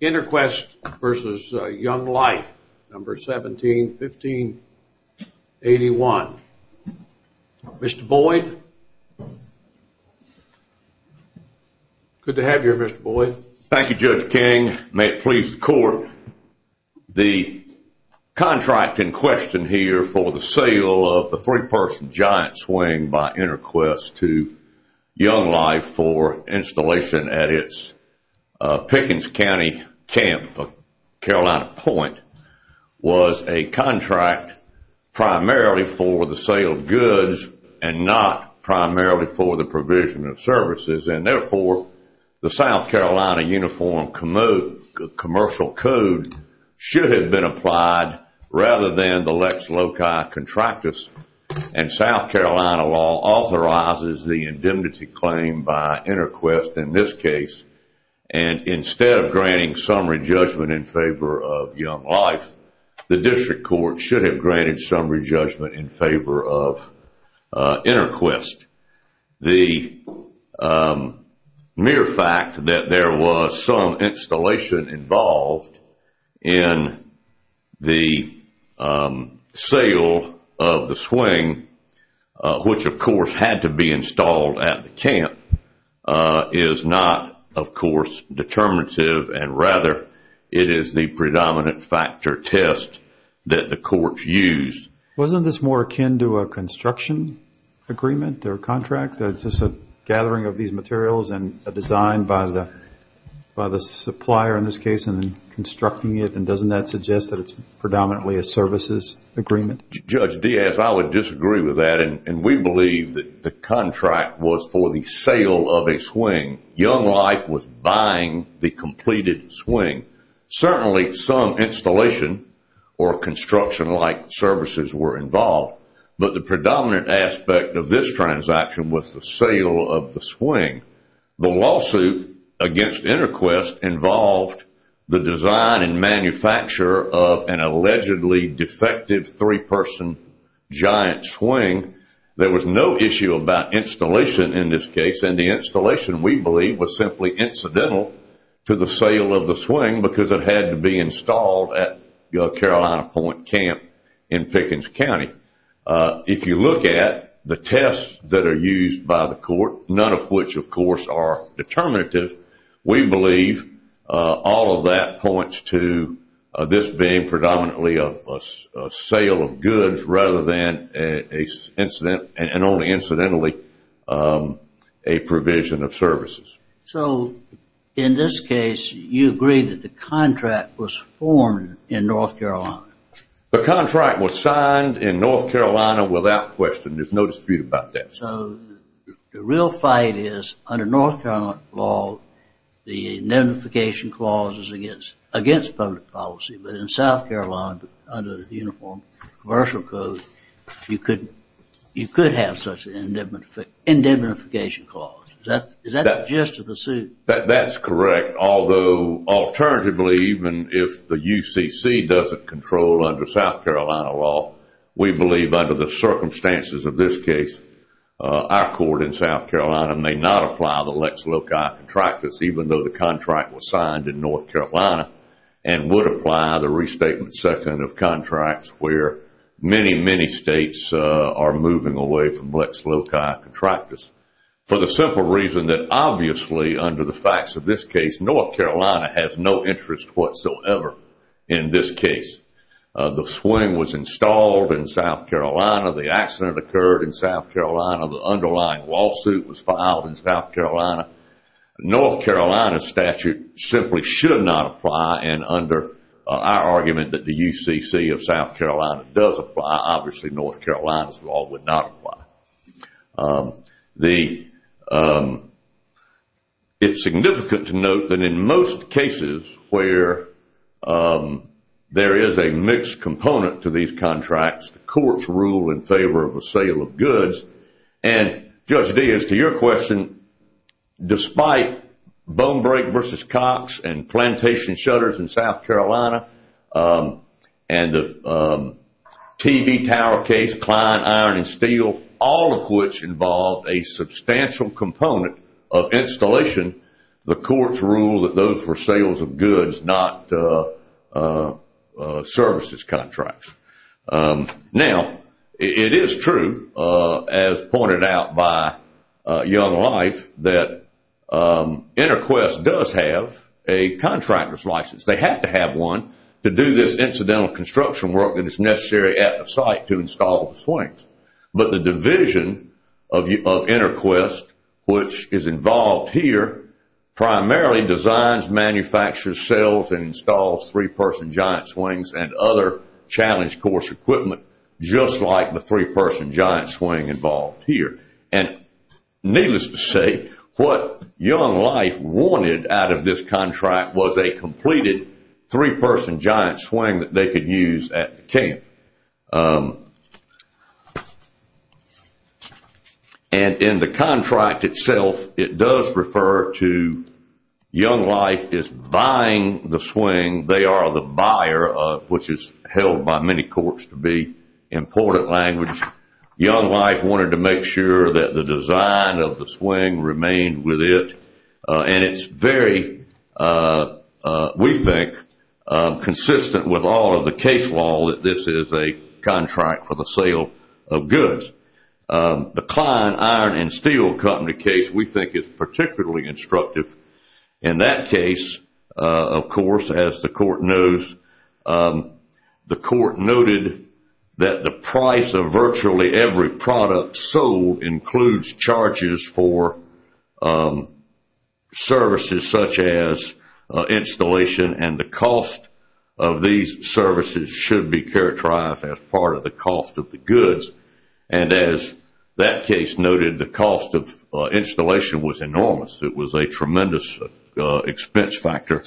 InterQuest v. Young Life, No. 17-1581. Mr. Boyd? Good to have you here, Mr. Boyd. Thank you, Judge King. May it please the Court, the contract in question here for the sale of the three-person giant swing by InterQuest to Young Life for installation at its Pickens County Camp of Carolina Point was a contract primarily for the sale of goods and not primarily for the provision of services, and therefore the South Carolina Uniform Commercial Code should have been applied rather than the Lex Loci Contractus. And South Carolina law authorizes the indemnity claim by InterQuest in this case, and instead of granting summary judgment in favor of Young Life, the district court should have granted summary judgment in favor of InterQuest. The mere fact that there was some installation involved in the sale of the swing, which of course had to be installed at the camp, is not, of course, determinative, and rather it is the predominant factor test that the courts use. Wasn't this more akin to a construction agreement or contract? It's just a gathering of these materials and a design by the supplier in this case and then constructing it, and doesn't that suggest that it's predominantly a services agreement? Judge Diaz, I would disagree with that, and we believe that the contract was for the sale of a swing. Young Life was buying the completed swing. Certainly some installation or construction-like services were involved, but the predominant aspect of this transaction was the sale of the swing. The lawsuit against InterQuest involved the design and manufacture of an allegedly defective three-person giant swing. There was no issue about installation in this case, and the installation, we believe, was simply incidental to the sale of the swing because it had to be installed at Carolina Point Camp in Pickens County. If you look at the tests that are used by the court, none of which, of course, are determinative, we believe all of that points to this being predominantly a sale of goods rather than only incidentally a provision of services. So in this case, you agree that the contract was formed in North Carolina? The contract was signed in North Carolina without question. There's no dispute about that. So the real fight is under North Carolina law, the notification clause is against public policy, but in South Carolina, under the Uniform Commercial Code, you could have such an indemnification clause. Is that the gist of the suit? That's correct, although alternatively, even if the UCC doesn't control under South Carolina law, we believe under the circumstances of this case, our court in South Carolina may not apply the Lex Loci contract even though the contract was signed in North Carolina and would apply the restatement second of contracts where many, many states are moving away from Lex Loci contractors for the simple reason that obviously under the facts of this case, North Carolina has no interest whatsoever in this case. The swing was installed in South Carolina. The accident occurred in South Carolina. The underlying lawsuit was filed in South Carolina. North Carolina statute simply should not apply, and under our argument that the UCC of South Carolina does apply, obviously North Carolina's law would not apply. It's significant to note that in most cases where there is a mixed component to these contracts, the courts rule in favor of the sale of goods, and Judge Deas, to your question, despite bone break versus Cox and plantation shutters in South Carolina and the TV tower case, Klein, Iron and Steel, all of which involve a substantial component of installation, the courts rule that those were sales of goods, not services contracts. Now, it is true, as pointed out by Young Life, that InterQuest does have a contractor's license. They have to have one to do this incidental construction work that is necessary at the site to install the swings, but the division of InterQuest, which is involved here, primarily designs, manufactures, sells and installs three-person giant swings and other challenge course equipment, just like the three-person giant swing involved here. And needless to say, what Young Life wanted out of this contract was a completed three-person giant swing that they could use at the camp. And in the contract itself, it does refer to Young Life is buying the swing. They are the buyer, which is held by many courts to be important language. Young Life wanted to make sure that the design of the swing remained with it, and it's very, we think, consistent with all of the case law that this is a contract for the sale of goods. The Klein, Iron and Steel company case, we think, is particularly instructive. In that case, of course, as the court knows, the court noted that the price of virtually every product sold includes charges for services such as installation, and the cost of these services should be characterized as part of the cost of the goods. And as that case noted, the cost of installation was enormous. It was a tremendous expense factor.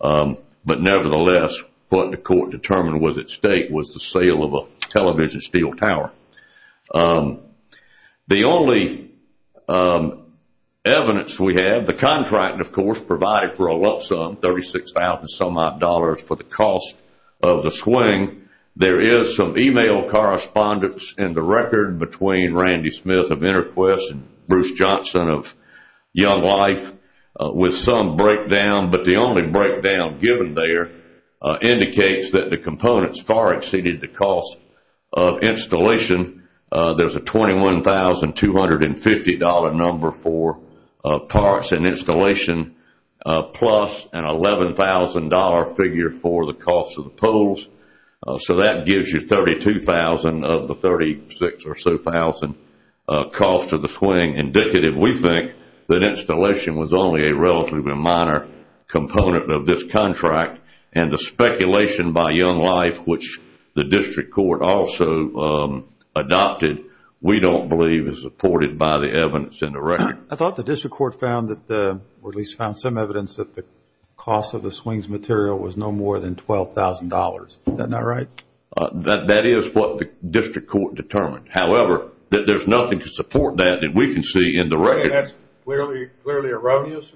But nevertheless, what the court determined was at stake was the sale of a television steel tower. The only evidence we have, the contract, of course, provided for a lump sum, $36,000 for the cost of the swing. There is some email correspondence in the record between Randy Smith of InterQuest and Bruce Johnson of Young Life with some breakdown, but the only breakdown given there indicates that the components far exceeded the cost of installation. There's a $21,250 number for parts and installation plus an $11,000 figure for the cost of the poles. So that gives you $32,000 of the $36,000 cost of the swing. Indicative, we think that installation was only a relatively minor component of this contract, and the speculation by Young Life, which the district court also adopted, we don't believe is supported by the evidence in the record. I thought the district court found that, or at least found some evidence, that the cost of the swings material was no more than $12,000. Is that not right? That is what the district court determined. However, there's nothing to support that that we can see in the record. That's clearly erroneous?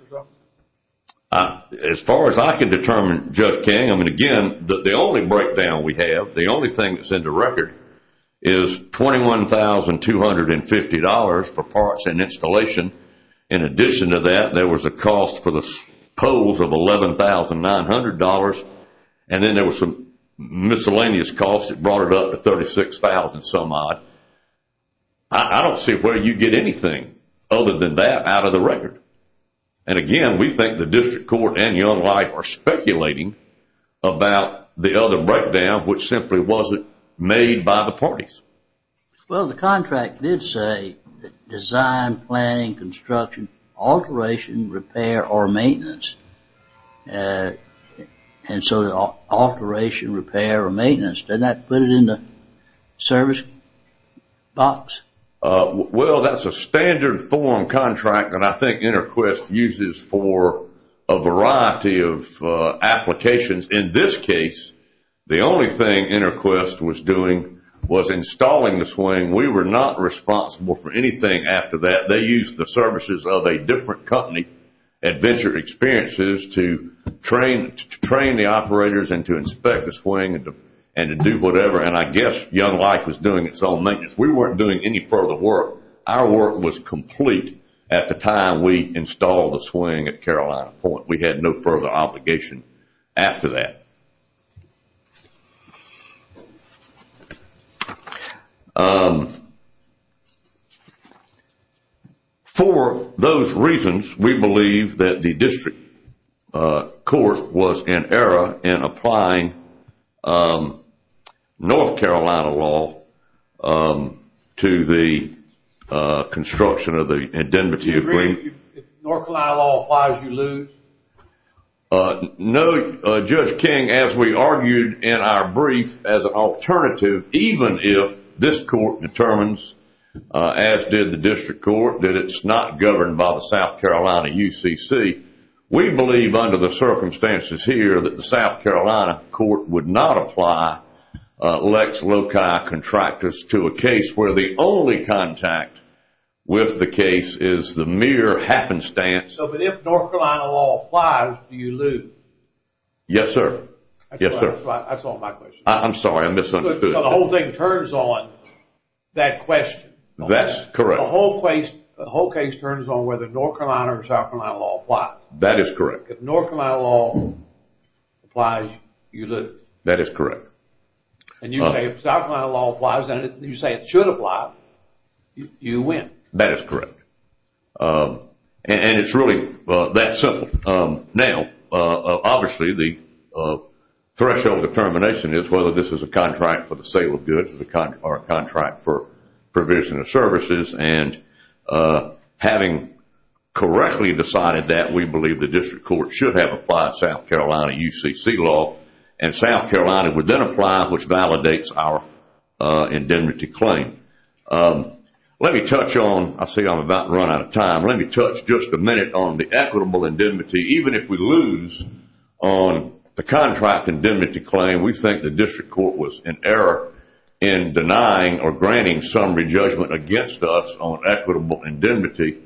As far as I can determine, Judge King, I mean, again, the only breakdown we have, the only thing that's in the record is $21,250 for parts and installation. In addition to that, there was a cost for the poles of $11,900, and then there was some miscellaneous costs that brought it up to $36,000 some odd. I don't see where you get anything other than that out of the record. And again, we think the district court and Young Life are speculating about the other breakdown, which simply wasn't made by the parties. Well, the contract did say design, planning, construction, alteration, repair, or maintenance. And so the alteration, repair, or maintenance, doesn't that put it in the service box? Well, that's a standard form contract that I think InterQuest uses for a variety of applications. In this case, the only thing InterQuest was doing was installing the swing. We were not responsible for anything after that. They used the services of a different company, Adventure Experiences, to train the operators and to inspect the swing and to do whatever. And I guess Young Life was doing its own maintenance. We weren't doing any further work. Our work was complete at the time we installed the swing at Carolina Point. We had no further obligation after that. For those reasons, we believe that the district court was in error in applying North Carolina law to the construction of the indemnity agreement. If North Carolina law applies, you lose? No, Judge King. As we argued in our brief, as an alternative, even if this court determines, as did the district court, that it's not governed by the South Carolina UCC, we believe under the circumstances here that the South Carolina court would not apply Lex Loci Contractors to a case where the only contact with the case is the mere happenstance. But if North Carolina law applies, do you lose? Yes, sir. That's all my question. I'm sorry, I misunderstood. The whole thing turns on that question. That's correct. The whole case turns on whether North Carolina or South Carolina law applies. That is correct. If North Carolina law applies, you lose. That is correct. And you say if South Carolina law applies and you say it should apply, you win. That is correct. And it's really that simple. Now, obviously, the threshold determination is whether this is a contract for the sale of goods or a contract for provision of services. And having correctly decided that, we believe the district court should have applied South Carolina UCC law and South Carolina would then apply, which validates our indemnity claim. Let me touch on, I see I'm about to run out of time, let me touch just a minute on the equitable indemnity. Even if we lose on the contract indemnity claim, we think the district court was in error in denying or granting summary judgment against us on equitable indemnity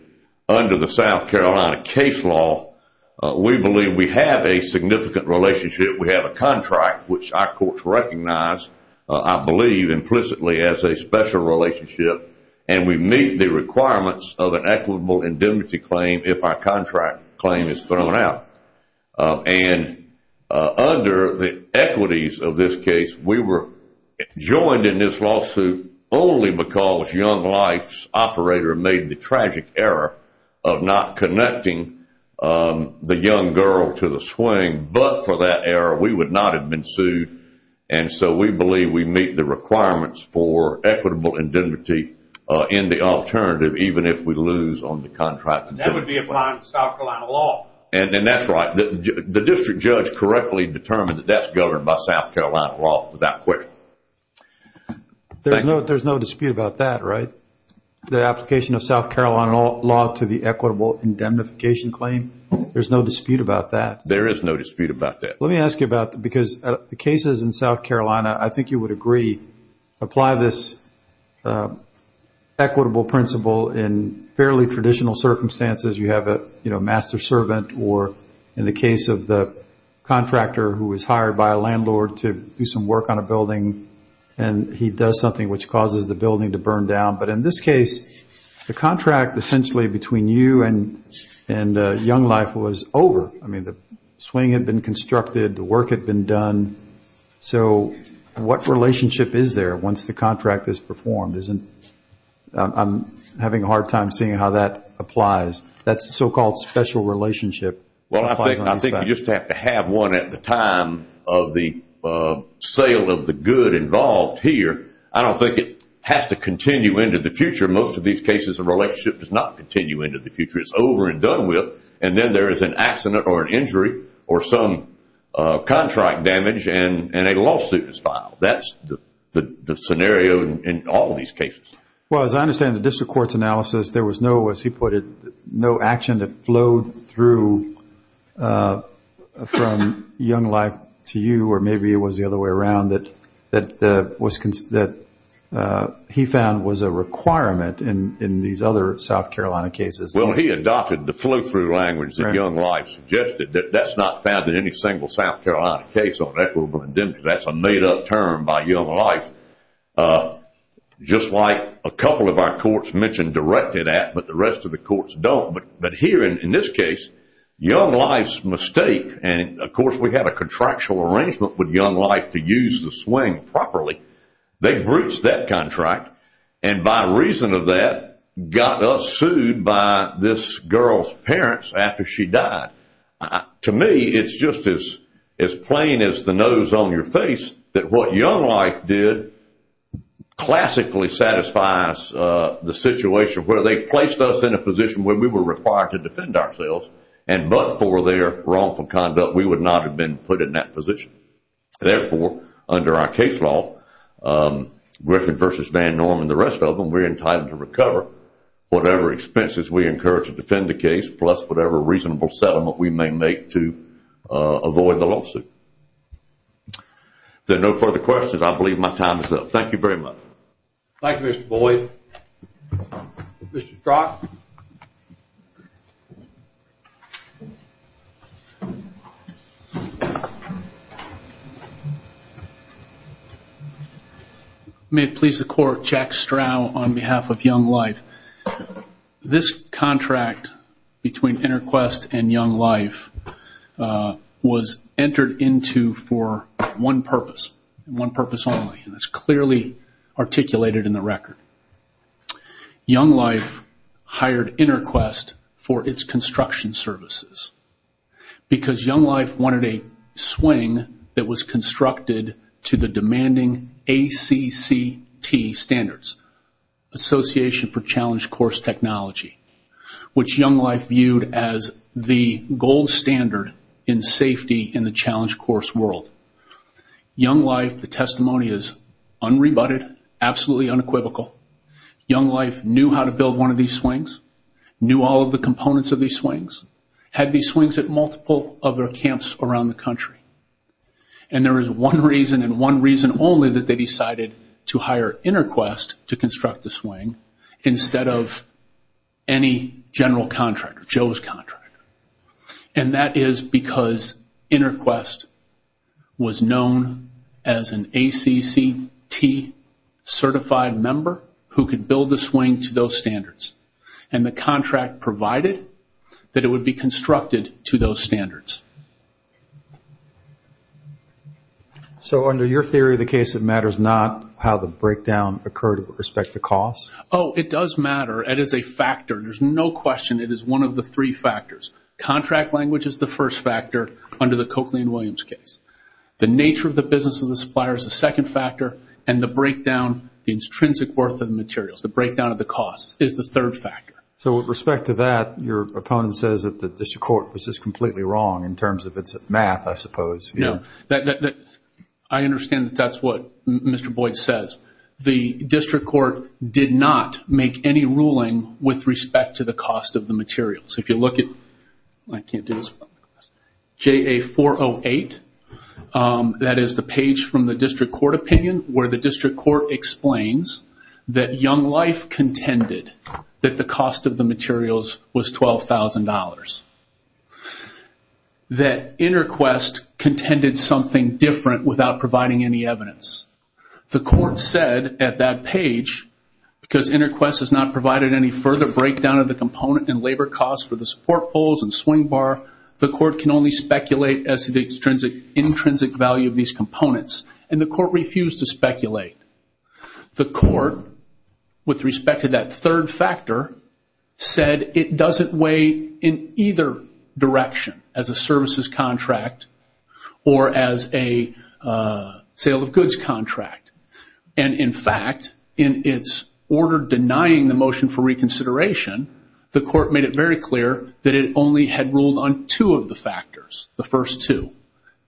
under the South Carolina case law. We believe we have a significant relationship. We have a contract, which our courts recognize, I believe, implicitly as a special relationship, and we meet the requirements of an equitable indemnity claim if our contract claim is thrown out. And under the equities of this case, we were joined in this lawsuit only because Young Life's operator made the tragic error of not connecting the young girl to the swing. But for that error, we would not have been sued. And so we believe we meet the requirements for equitable indemnity in the alternative, even if we lose on the contract indemnity. That would be applying South Carolina law. And that's right. The district judge correctly determined that that's governed by South Carolina law without question. There's no dispute about that, right? The application of South Carolina law to the equitable indemnification claim? There's no dispute about that. There is no dispute about that. Let me ask you about that because the cases in South Carolina, I think you would agree, apply this equitable principle in fairly traditional circumstances. You have a master servant or, in the case of the contractor who was hired by a landlord to do some work on a building and he does something which causes the building to burn down. But in this case, the contract essentially between you and Young Life was over. I mean, the swing had been constructed. The work had been done. So what relationship is there once the contract is performed? I'm having a hard time seeing how that applies. That so-called special relationship. Well, I think you just have to have one at the time of the sale of the good involved here. I don't think it has to continue into the future. Most of these cases, the relationship does not continue into the future. It's over and done with. And then there is an accident or an injury or some contract damage and a lawsuit is filed. That's the scenario in all these cases. Well, as I understand the district court's analysis, there was no, as he put it, no action that flowed through from Young Life to you or maybe it was the other way around that he found was a requirement in these other South Carolina cases. Well, he adopted the flow-through language that Young Life suggested. That's not found in any single South Carolina case on equitable indemnity. That's a made-up term by Young Life. Just like a couple of our courts mentioned directed at, but the rest of the courts don't. But here in this case, Young Life's mistake, and of course we have a contractual arrangement with Young Life to use the swing properly. They breached that contract and by reason of that got us sued by this girl's parents after she died. To me, it's just as plain as the nose on your face that what Young Life did classically satisfies the situation where they placed us in a position where we were required to defend ourselves and but for their wrongful conduct, we would not have been put in that position. Therefore, under our case law, Griffin versus Van Norman, the rest of them, we're entitled to recover whatever expenses we incur to defend the case plus whatever reasonable settlement we may make to avoid the lawsuit. If there are no further questions, I believe my time is up. Thank you very much. Thank you, Mr. Boyd. Mr. Strach? May it please the court, Jack Strauch on behalf of Young Life. This contract between InterQuest and Young Life was entered into for one purpose, one purpose only, and it's clearly articulated in the record. Young Life hired InterQuest for its construction services because Young Life wanted a swing that was constructed to the demanding ACCT standards, Association for Challenge Course Technology, which Young Life viewed as the gold standard in safety in the challenge course world. Young Life, the testimony is unrebutted, absolutely unequivocal. Young Life knew how to build one of these swings, knew all of the components of these swings, had these swings at multiple other camps around the country. And there is one reason and one reason only that they decided to hire InterQuest to construct the swing instead of any general contractor, Joe's contractor. And that is because InterQuest was known as an ACCT certified member who could build the swing to those standards. And the contract provided that it would be constructed to those standards. So under your theory of the case, it matters not how the breakdown occurred with respect to cost? Oh, it does matter. It is a factor. There's no question it is one of the three factors. Contract language is the first factor under the Coakley and Williams case. The nature of the business of the supplier is the second factor, and the breakdown, the intrinsic worth of the materials, the breakdown of the costs is the third factor. So with respect to that, your opponent says that the district court was just completely wrong in terms of its math, I suppose. No. I understand that that's what Mr. Boyd says. The district court did not make any ruling with respect to the cost of the materials. If you look at JA408, that is the page from the district court opinion, where the district court explains that Young Life contended that the cost of the materials was $12,000. That InterQuest contended something different without providing any evidence. The court said at that page, because InterQuest has not provided any further breakdown of the component and labor costs for the support poles and swing bar, the court can only speculate as to the intrinsic value of these components, and the court refused to speculate. The court, with respect to that third factor, said it doesn't weigh in either direction, as a services contract or as a sale of goods contract. And, in fact, in its order denying the motion for reconsideration, the court made it very clear that it only had ruled on two of the factors, the first two,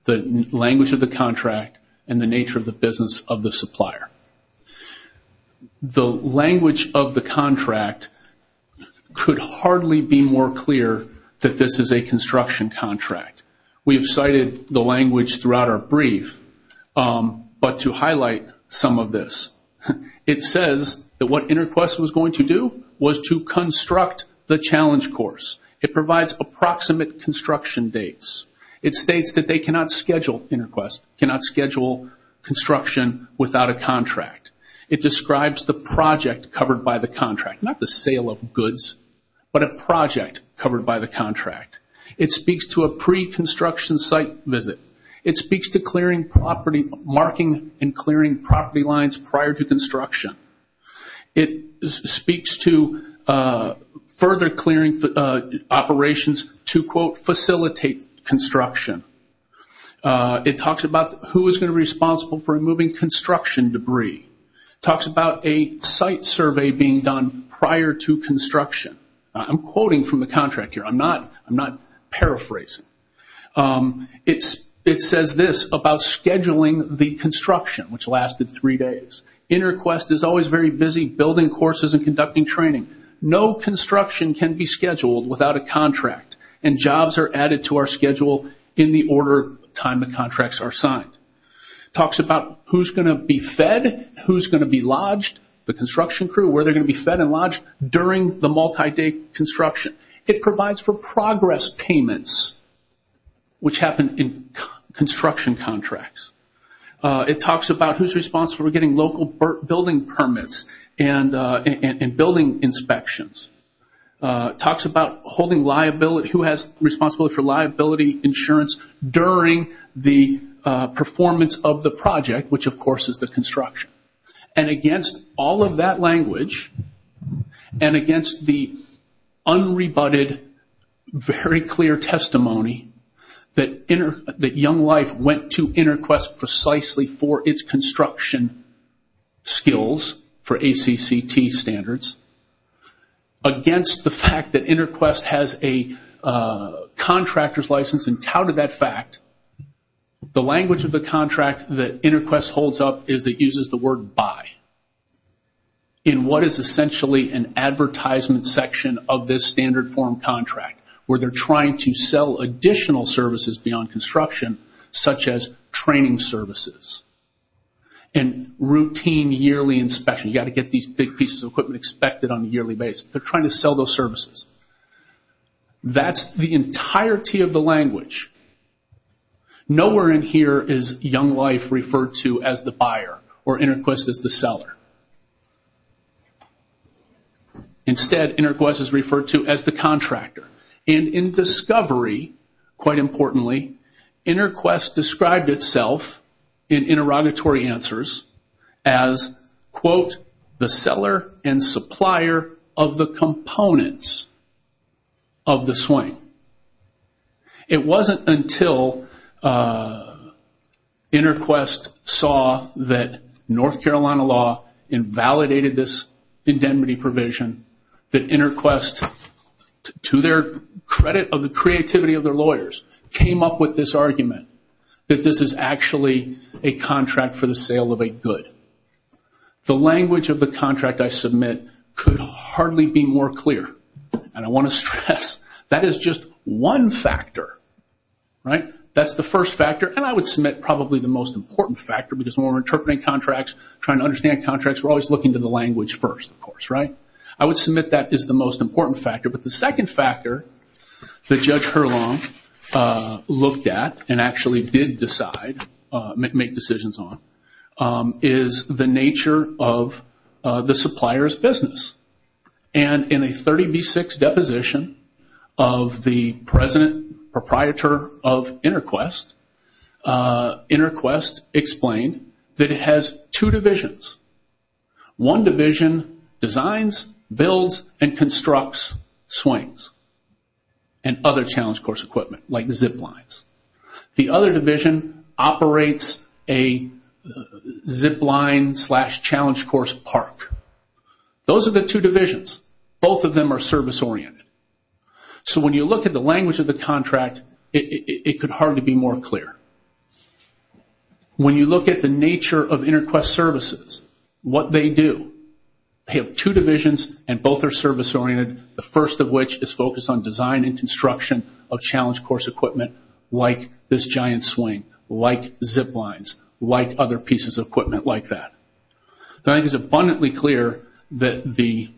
the language of the contract and the nature of the business of the supplier. The language of the contract could hardly be more clear that this is a construction contract. We have cited the language throughout our brief, but to highlight some of this, it says that what InterQuest was going to do was to construct the challenge course. It provides approximate construction dates. It states that InterQuest cannot schedule construction without a contract. It describes the project covered by the contract, not the sale of goods, but a project covered by the contract. It speaks to a pre-construction site visit. It speaks to marking and clearing property lines prior to construction. It speaks to further clearing operations to, quote, facilitate construction. It talks about who is going to be responsible for removing construction debris. It talks about a site survey being done prior to construction. I'm quoting from the contract here. I'm not paraphrasing. It says this about scheduling the construction, which lasted three days. InterQuest is always very busy building courses and conducting training. No construction can be scheduled without a contract, and jobs are added to our schedule in the order of time the contracts are signed. It talks about who is going to be fed, who is going to be lodged, the construction crew, where they're going to be fed and lodged during the multi-day construction. It provides for progress payments, which happen in construction contracts. It talks about who is responsible for getting local building permits and building inspections. It talks about who has responsibility for liability insurance during the performance of the project, which, of course, is the construction. Against all of that language and against the unrebutted, very clear testimony that Young Life went to InterQuest precisely for its construction skills for ACCT standards, against the fact that InterQuest has a contractor's license and touted that fact, the language of the contract that InterQuest holds up is it uses the word buy in what is essentially an advertisement section of this standard form contract where they're trying to sell additional services beyond construction, such as training services and routine yearly inspection. You've got to get these big pieces of equipment expected on a yearly basis. They're trying to sell those services. That's the entirety of the language. Nowhere in here is Young Life referred to as the buyer or InterQuest as the seller. Instead, InterQuest is referred to as the contractor. In discovery, quite importantly, InterQuest described itself in interrogatory answers as, quote, the seller and supplier of the components of the swing. It wasn't until InterQuest saw that North Carolina law invalidated this indemnity provision that InterQuest, to their credit of the creativity of their lawyers, came up with this argument that this is actually a contract for the sale of a good. The language of the contract I submit could hardly be more clear. I want to stress that is just one factor. That's the first factor. I would submit probably the most important factor because when we're interpreting contracts, trying to understand contracts, we're always looking to the language first, of course. I would submit that is the most important factor. The second factor that Judge Hurlong looked at and actually did decide, make decisions on, is the nature of the supplier's business. In a 30B6 deposition of the present proprietor of InterQuest, InterQuest explained that it has two divisions. One division designs, builds, and constructs swings and other challenge course equipment, like zip lines. The other division operates a zip line slash challenge course park. Those are the two divisions. Both of them are service oriented. So when you look at the language of the contract, it could hardly be more clear. When you look at the nature of InterQuest services, what they do, they have two divisions and both are service oriented, the first of which is focused on design and construction of challenge course equipment, like this giant swing, like zip lines, like other pieces of equipment like that. I think it's abundantly clear that the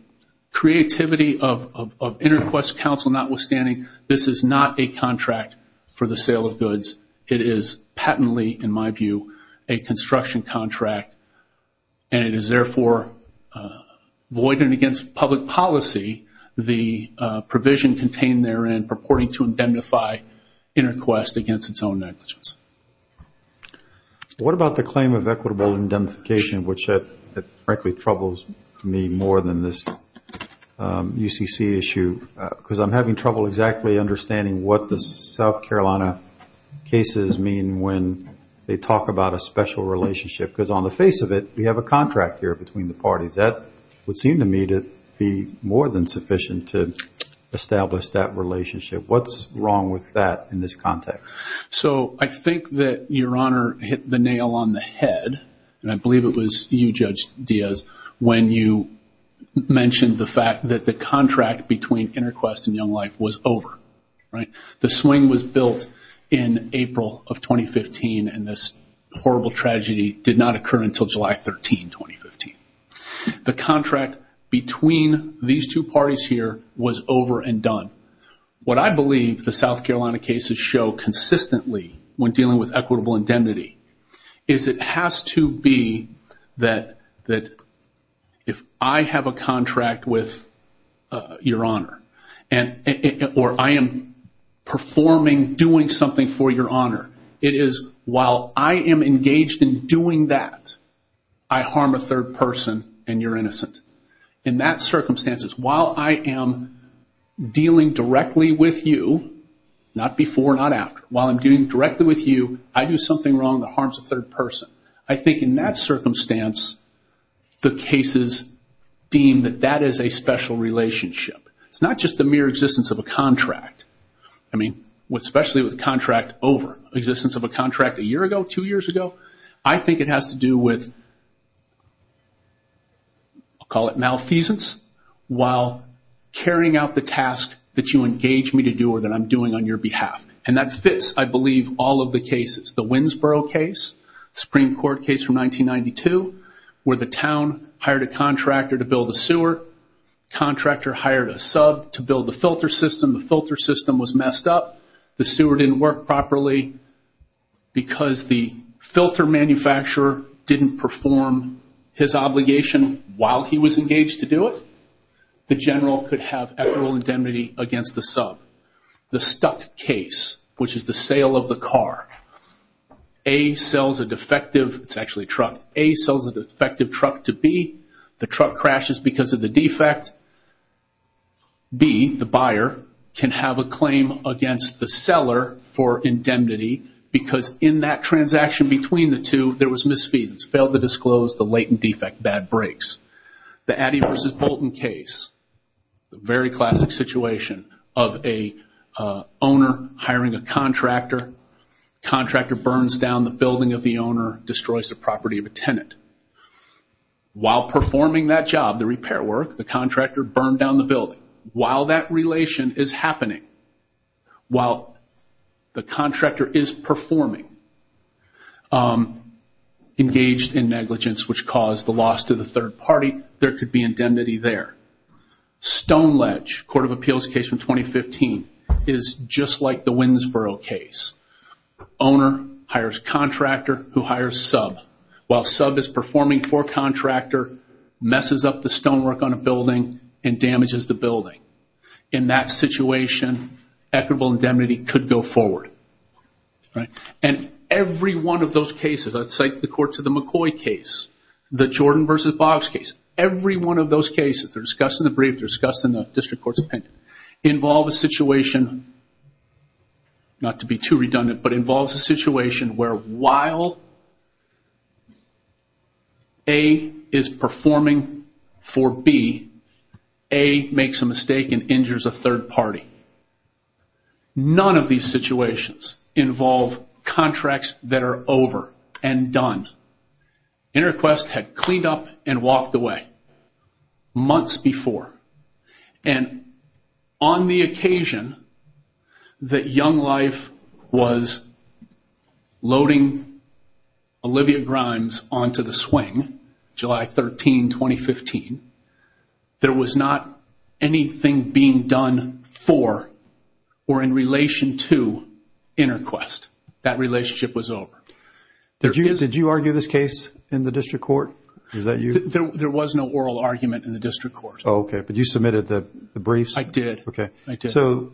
creativity of InterQuest Council notwithstanding, this is not a contract for the sale of goods. It is patently, in my view, a construction contract and it is therefore void and against public policy, the provision contained therein purporting to indemnify InterQuest against its own negligence. What about the claim of equitable indemnification, which frankly troubles me more than this UCC issue, because I'm having trouble exactly understanding what the South Carolina cases mean when they talk about a special relationship, because on the face of it, we have a contract here between the parties. That would seem to me to be more than sufficient to establish that relationship. What's wrong with that in this context? So I think that Your Honor hit the nail on the head, and I believe it was you, Judge Diaz, when you mentioned the fact that the contract between InterQuest and Young Life was over. The swing was built in April of 2015 and this horrible tragedy did not occur until July 13, 2015. The contract between these two parties here was over and done. What I believe the South Carolina cases show consistently when dealing with equitable indemnity is it has to be that if I have a contract with Your Honor or I am performing, doing something for Your Honor, it is while I am engaged in doing that, I harm a third person and you're innocent. In that circumstance, it's while I am dealing directly with you, not before, not after. While I'm dealing directly with you, I do something wrong that harms a third person. I think in that circumstance, the cases deem that that is a special relationship. It's not just the mere existence of a contract, especially with a contract over. The existence of a contract a year ago, two years ago, I think it has to do with, I'll call it malfeasance, while carrying out the task that you engage me to do or that I'm doing on your behalf. That fits, I believe, all of the cases. The Winnsboro case, Supreme Court case from 1992, where the town hired a contractor to build a sewer. Contractor hired a sub to build the filter system. The filter system was messed up. The sewer didn't work properly because the filter manufacturer didn't perform his obligation while he was engaged to do it. The general could have equitable indemnity against the sub. The Stuck case, which is the sale of the car. A sells a defective, it's actually a truck, A sells a defective truck to B. The truck crashes because of the defect. B, the buyer, can have a claim against the seller for indemnity because in that transaction between the two there was misfeasance, failed to disclose the latent defect, bad brakes. The Addy v. Bolton case, a very classic situation of an owner hiring a contractor. Contractor burns down the building of the owner, destroys the property of a tenant. While performing that job, the repair work, the contractor burned down the building. While that relation is happening, while the contractor is performing, engaged in negligence which caused the loss to the third party, there could be indemnity there. Stoneledge, Court of Appeals case from 2015, is just like the Winnsboro case. Owner hires contractor who hires sub. While sub is performing for contractor, messes up the stonework on a building and damages the building. In that situation, equitable indemnity could go forward. Every one of those cases, like the courts of the McCoy case, the Jordan v. Boggs case, every one of those cases, they're discussed in the brief, they're discussed in the district court's opinion, involve a situation, not to be too redundant, but involves a situation where while A is performing for B, A makes a mistake and injures a third party. None of these situations involve contracts that are over and done. InterQuest had cleaned up and walked away months before. On the occasion that Young Life was loading Olivia Grimes onto the swing, July 13, 2015, there was not anything being done for or in relation to InterQuest. That relationship was over. Did you argue this case in the district court? There was no oral argument in the district court. Okay. But you submitted the briefs? I did. Okay. I did. So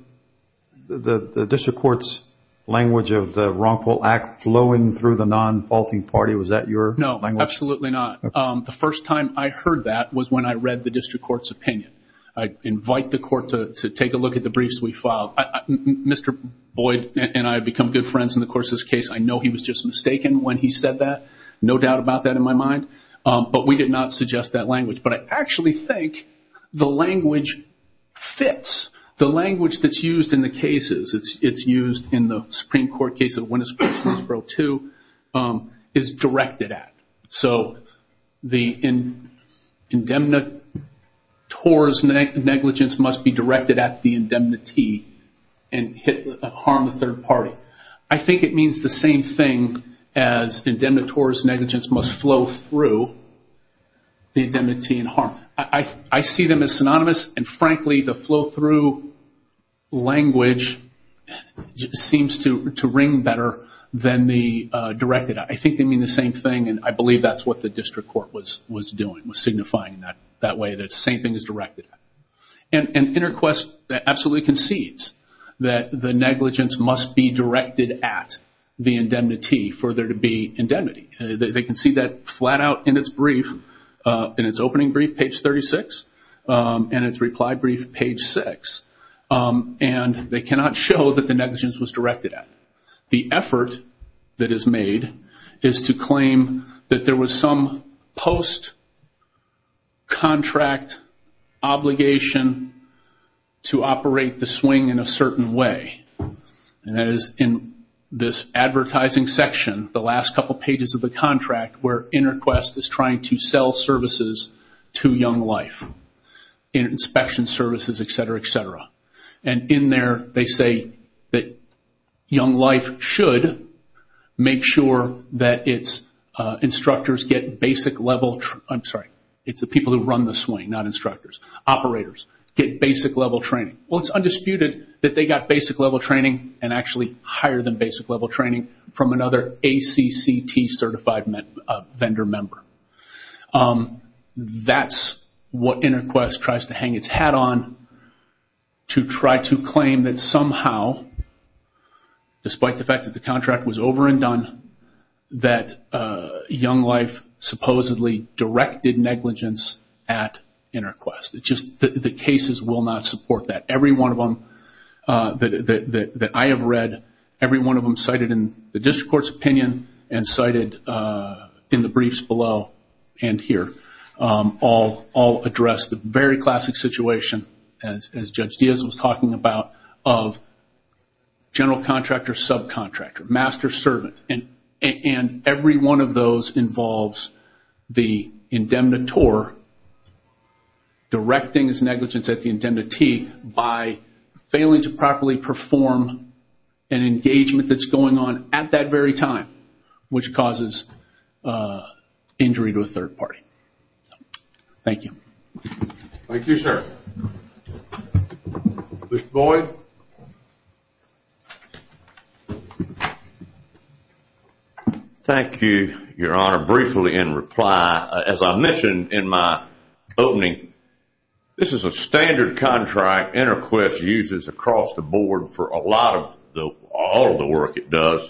the district court's language of the Wrongful Act flowing through the non-faulting party, was that your language? No, absolutely not. The first time I heard that was when I read the district court's opinion. I invite the court to take a look at the briefs we filed. Mr. Boyd and I have become good friends in the Corsas case. I know he was just mistaken when he said that. No doubt about that in my mind. But we did not suggest that language. But I actually think the language fits. The language that's used in the cases, it's used in the Supreme Court case of Winnesboro 2, is directed at. So the indemnitores negligence must be directed at the indemnity and harm the third party. I think it means the same thing as indemnitores negligence must flow through the indemnity and harm. I see them as synonymous. And, frankly, the flow through language seems to ring better than the directed at. I think they mean the same thing. And I believe that's what the district court was doing, was signifying that way, that the same thing as directed at. And InterQuest absolutely concedes that the negligence must be directed at the indemnity for there to be indemnity. They concede that flat out in its brief, in its opening brief, page 36, and its reply brief, page 6. And they cannot show that the negligence was directed at. The effort that is made is to claim that there was some post-contract obligation to operate the swing in a certain way. And that is in this advertising section, the last couple pages of the contract, where InterQuest is trying to sell services to Young Life, inspection services, et cetera, et cetera. And in there they say that Young Life should make sure that its instructors get basic level, I'm sorry, it's the people who run the swing, not instructors, operators, get basic level training. Well, it's undisputed that they got basic level training and actually higher than basic level training from another ACCT certified vendor member. That's what InterQuest tries to hang its hat on to try to claim that somehow, despite the fact that the contract was over and done, that Young Life supposedly directed negligence at InterQuest. The cases will not support that. Every one of them that I have read, every one of them cited in the district court's opinion and cited in the briefs below and here, all address the very classic situation, as Judge Diaz was talking about, of general contractor, subcontractor, master servant. And every one of those involves the indemnitor directing his negligence at the indemnity by failing to properly perform an engagement that's going on at that very time, which causes injury to a third party. Thank you. Thank you, sir. Mr. Boyd. Thank you, Your Honor, briefly in reply. As I mentioned in my opening, this is a standard contract InterQuest uses across the board for all of the work it does.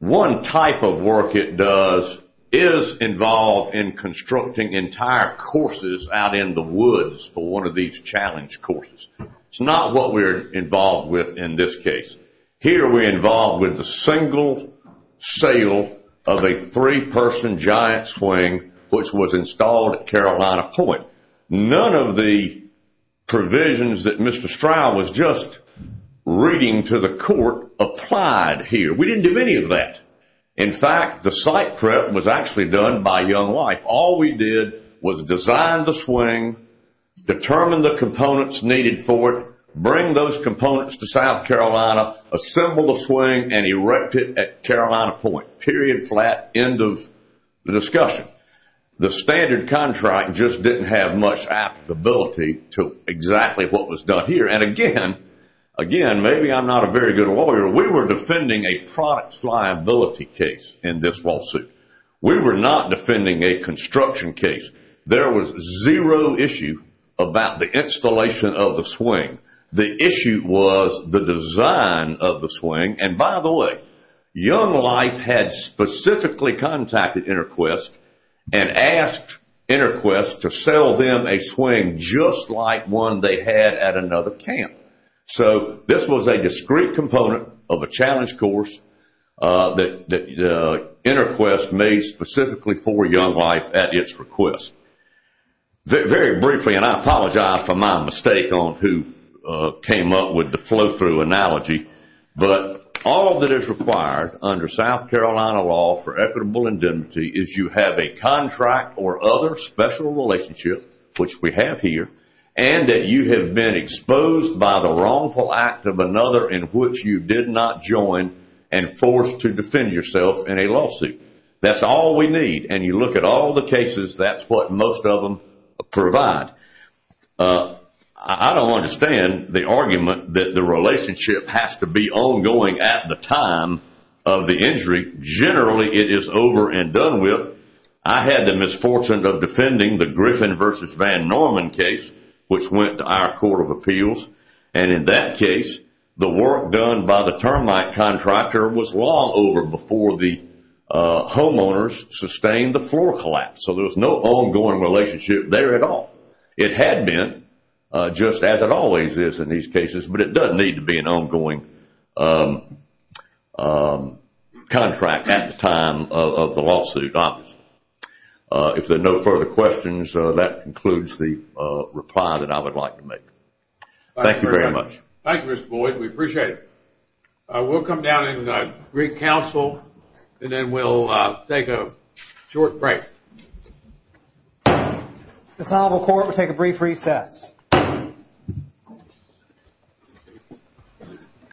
One type of work it does is involved in constructing entire courses out in the woods for one of these challenge courses. It's not what we're involved with in this case. Here we're involved with the single sale of a three-person giant swing, which was installed at Carolina Point. None of the provisions that Mr. Stroud was just reading to the court applied here. We didn't do any of that. In fact, the site prep was actually done by Young Wife. All we did was design the swing, determine the components needed for it, bring those components to South Carolina, assemble the swing, and erect it at Carolina Point, period, flat, end of discussion. The standard contract just didn't have much applicability to exactly what was done here. And again, maybe I'm not a very good lawyer, we were defending a product liability case in this lawsuit. We were not defending a construction case. There was zero issue about the installation of the swing. The issue was the design of the swing. And by the way, Young Wife had specifically contacted InterQuest and asked InterQuest to sell them a swing just like one they had at another camp. So this was a discrete component of a challenge course that InterQuest made specifically for Young Wife at its request. Very briefly, and I apologize for my mistake on who came up with the flow-through analogy, but all that is required under South Carolina law for equitable indemnity is you have a contract or other special relationship, which we have here, and that you have been exposed by the wrongful act of another in which you did not join and forced to defend yourself in a lawsuit. That's all we need. And you look at all the cases, that's what most of them provide. I don't understand the argument that the relationship has to be ongoing at the time of the injury. Generally, it is over and done with. I had the misfortune of defending the Griffin v. Van Norman case, which went to our Court of Appeals. And in that case, the work done by the termite contractor was long over before the homeowners sustained the floor collapse. So there was no ongoing relationship there at all. It had been, just as it always is in these cases, but it doesn't need to be an ongoing contract at the time of the lawsuit, obviously. If there are no further questions, that concludes the reply that I would like to make. Thank you very much. Thank you, Mr. Boyd. We appreciate it. We'll come down and greet counsel, and then we'll take a short break. The Solvable Court will take a brief recess.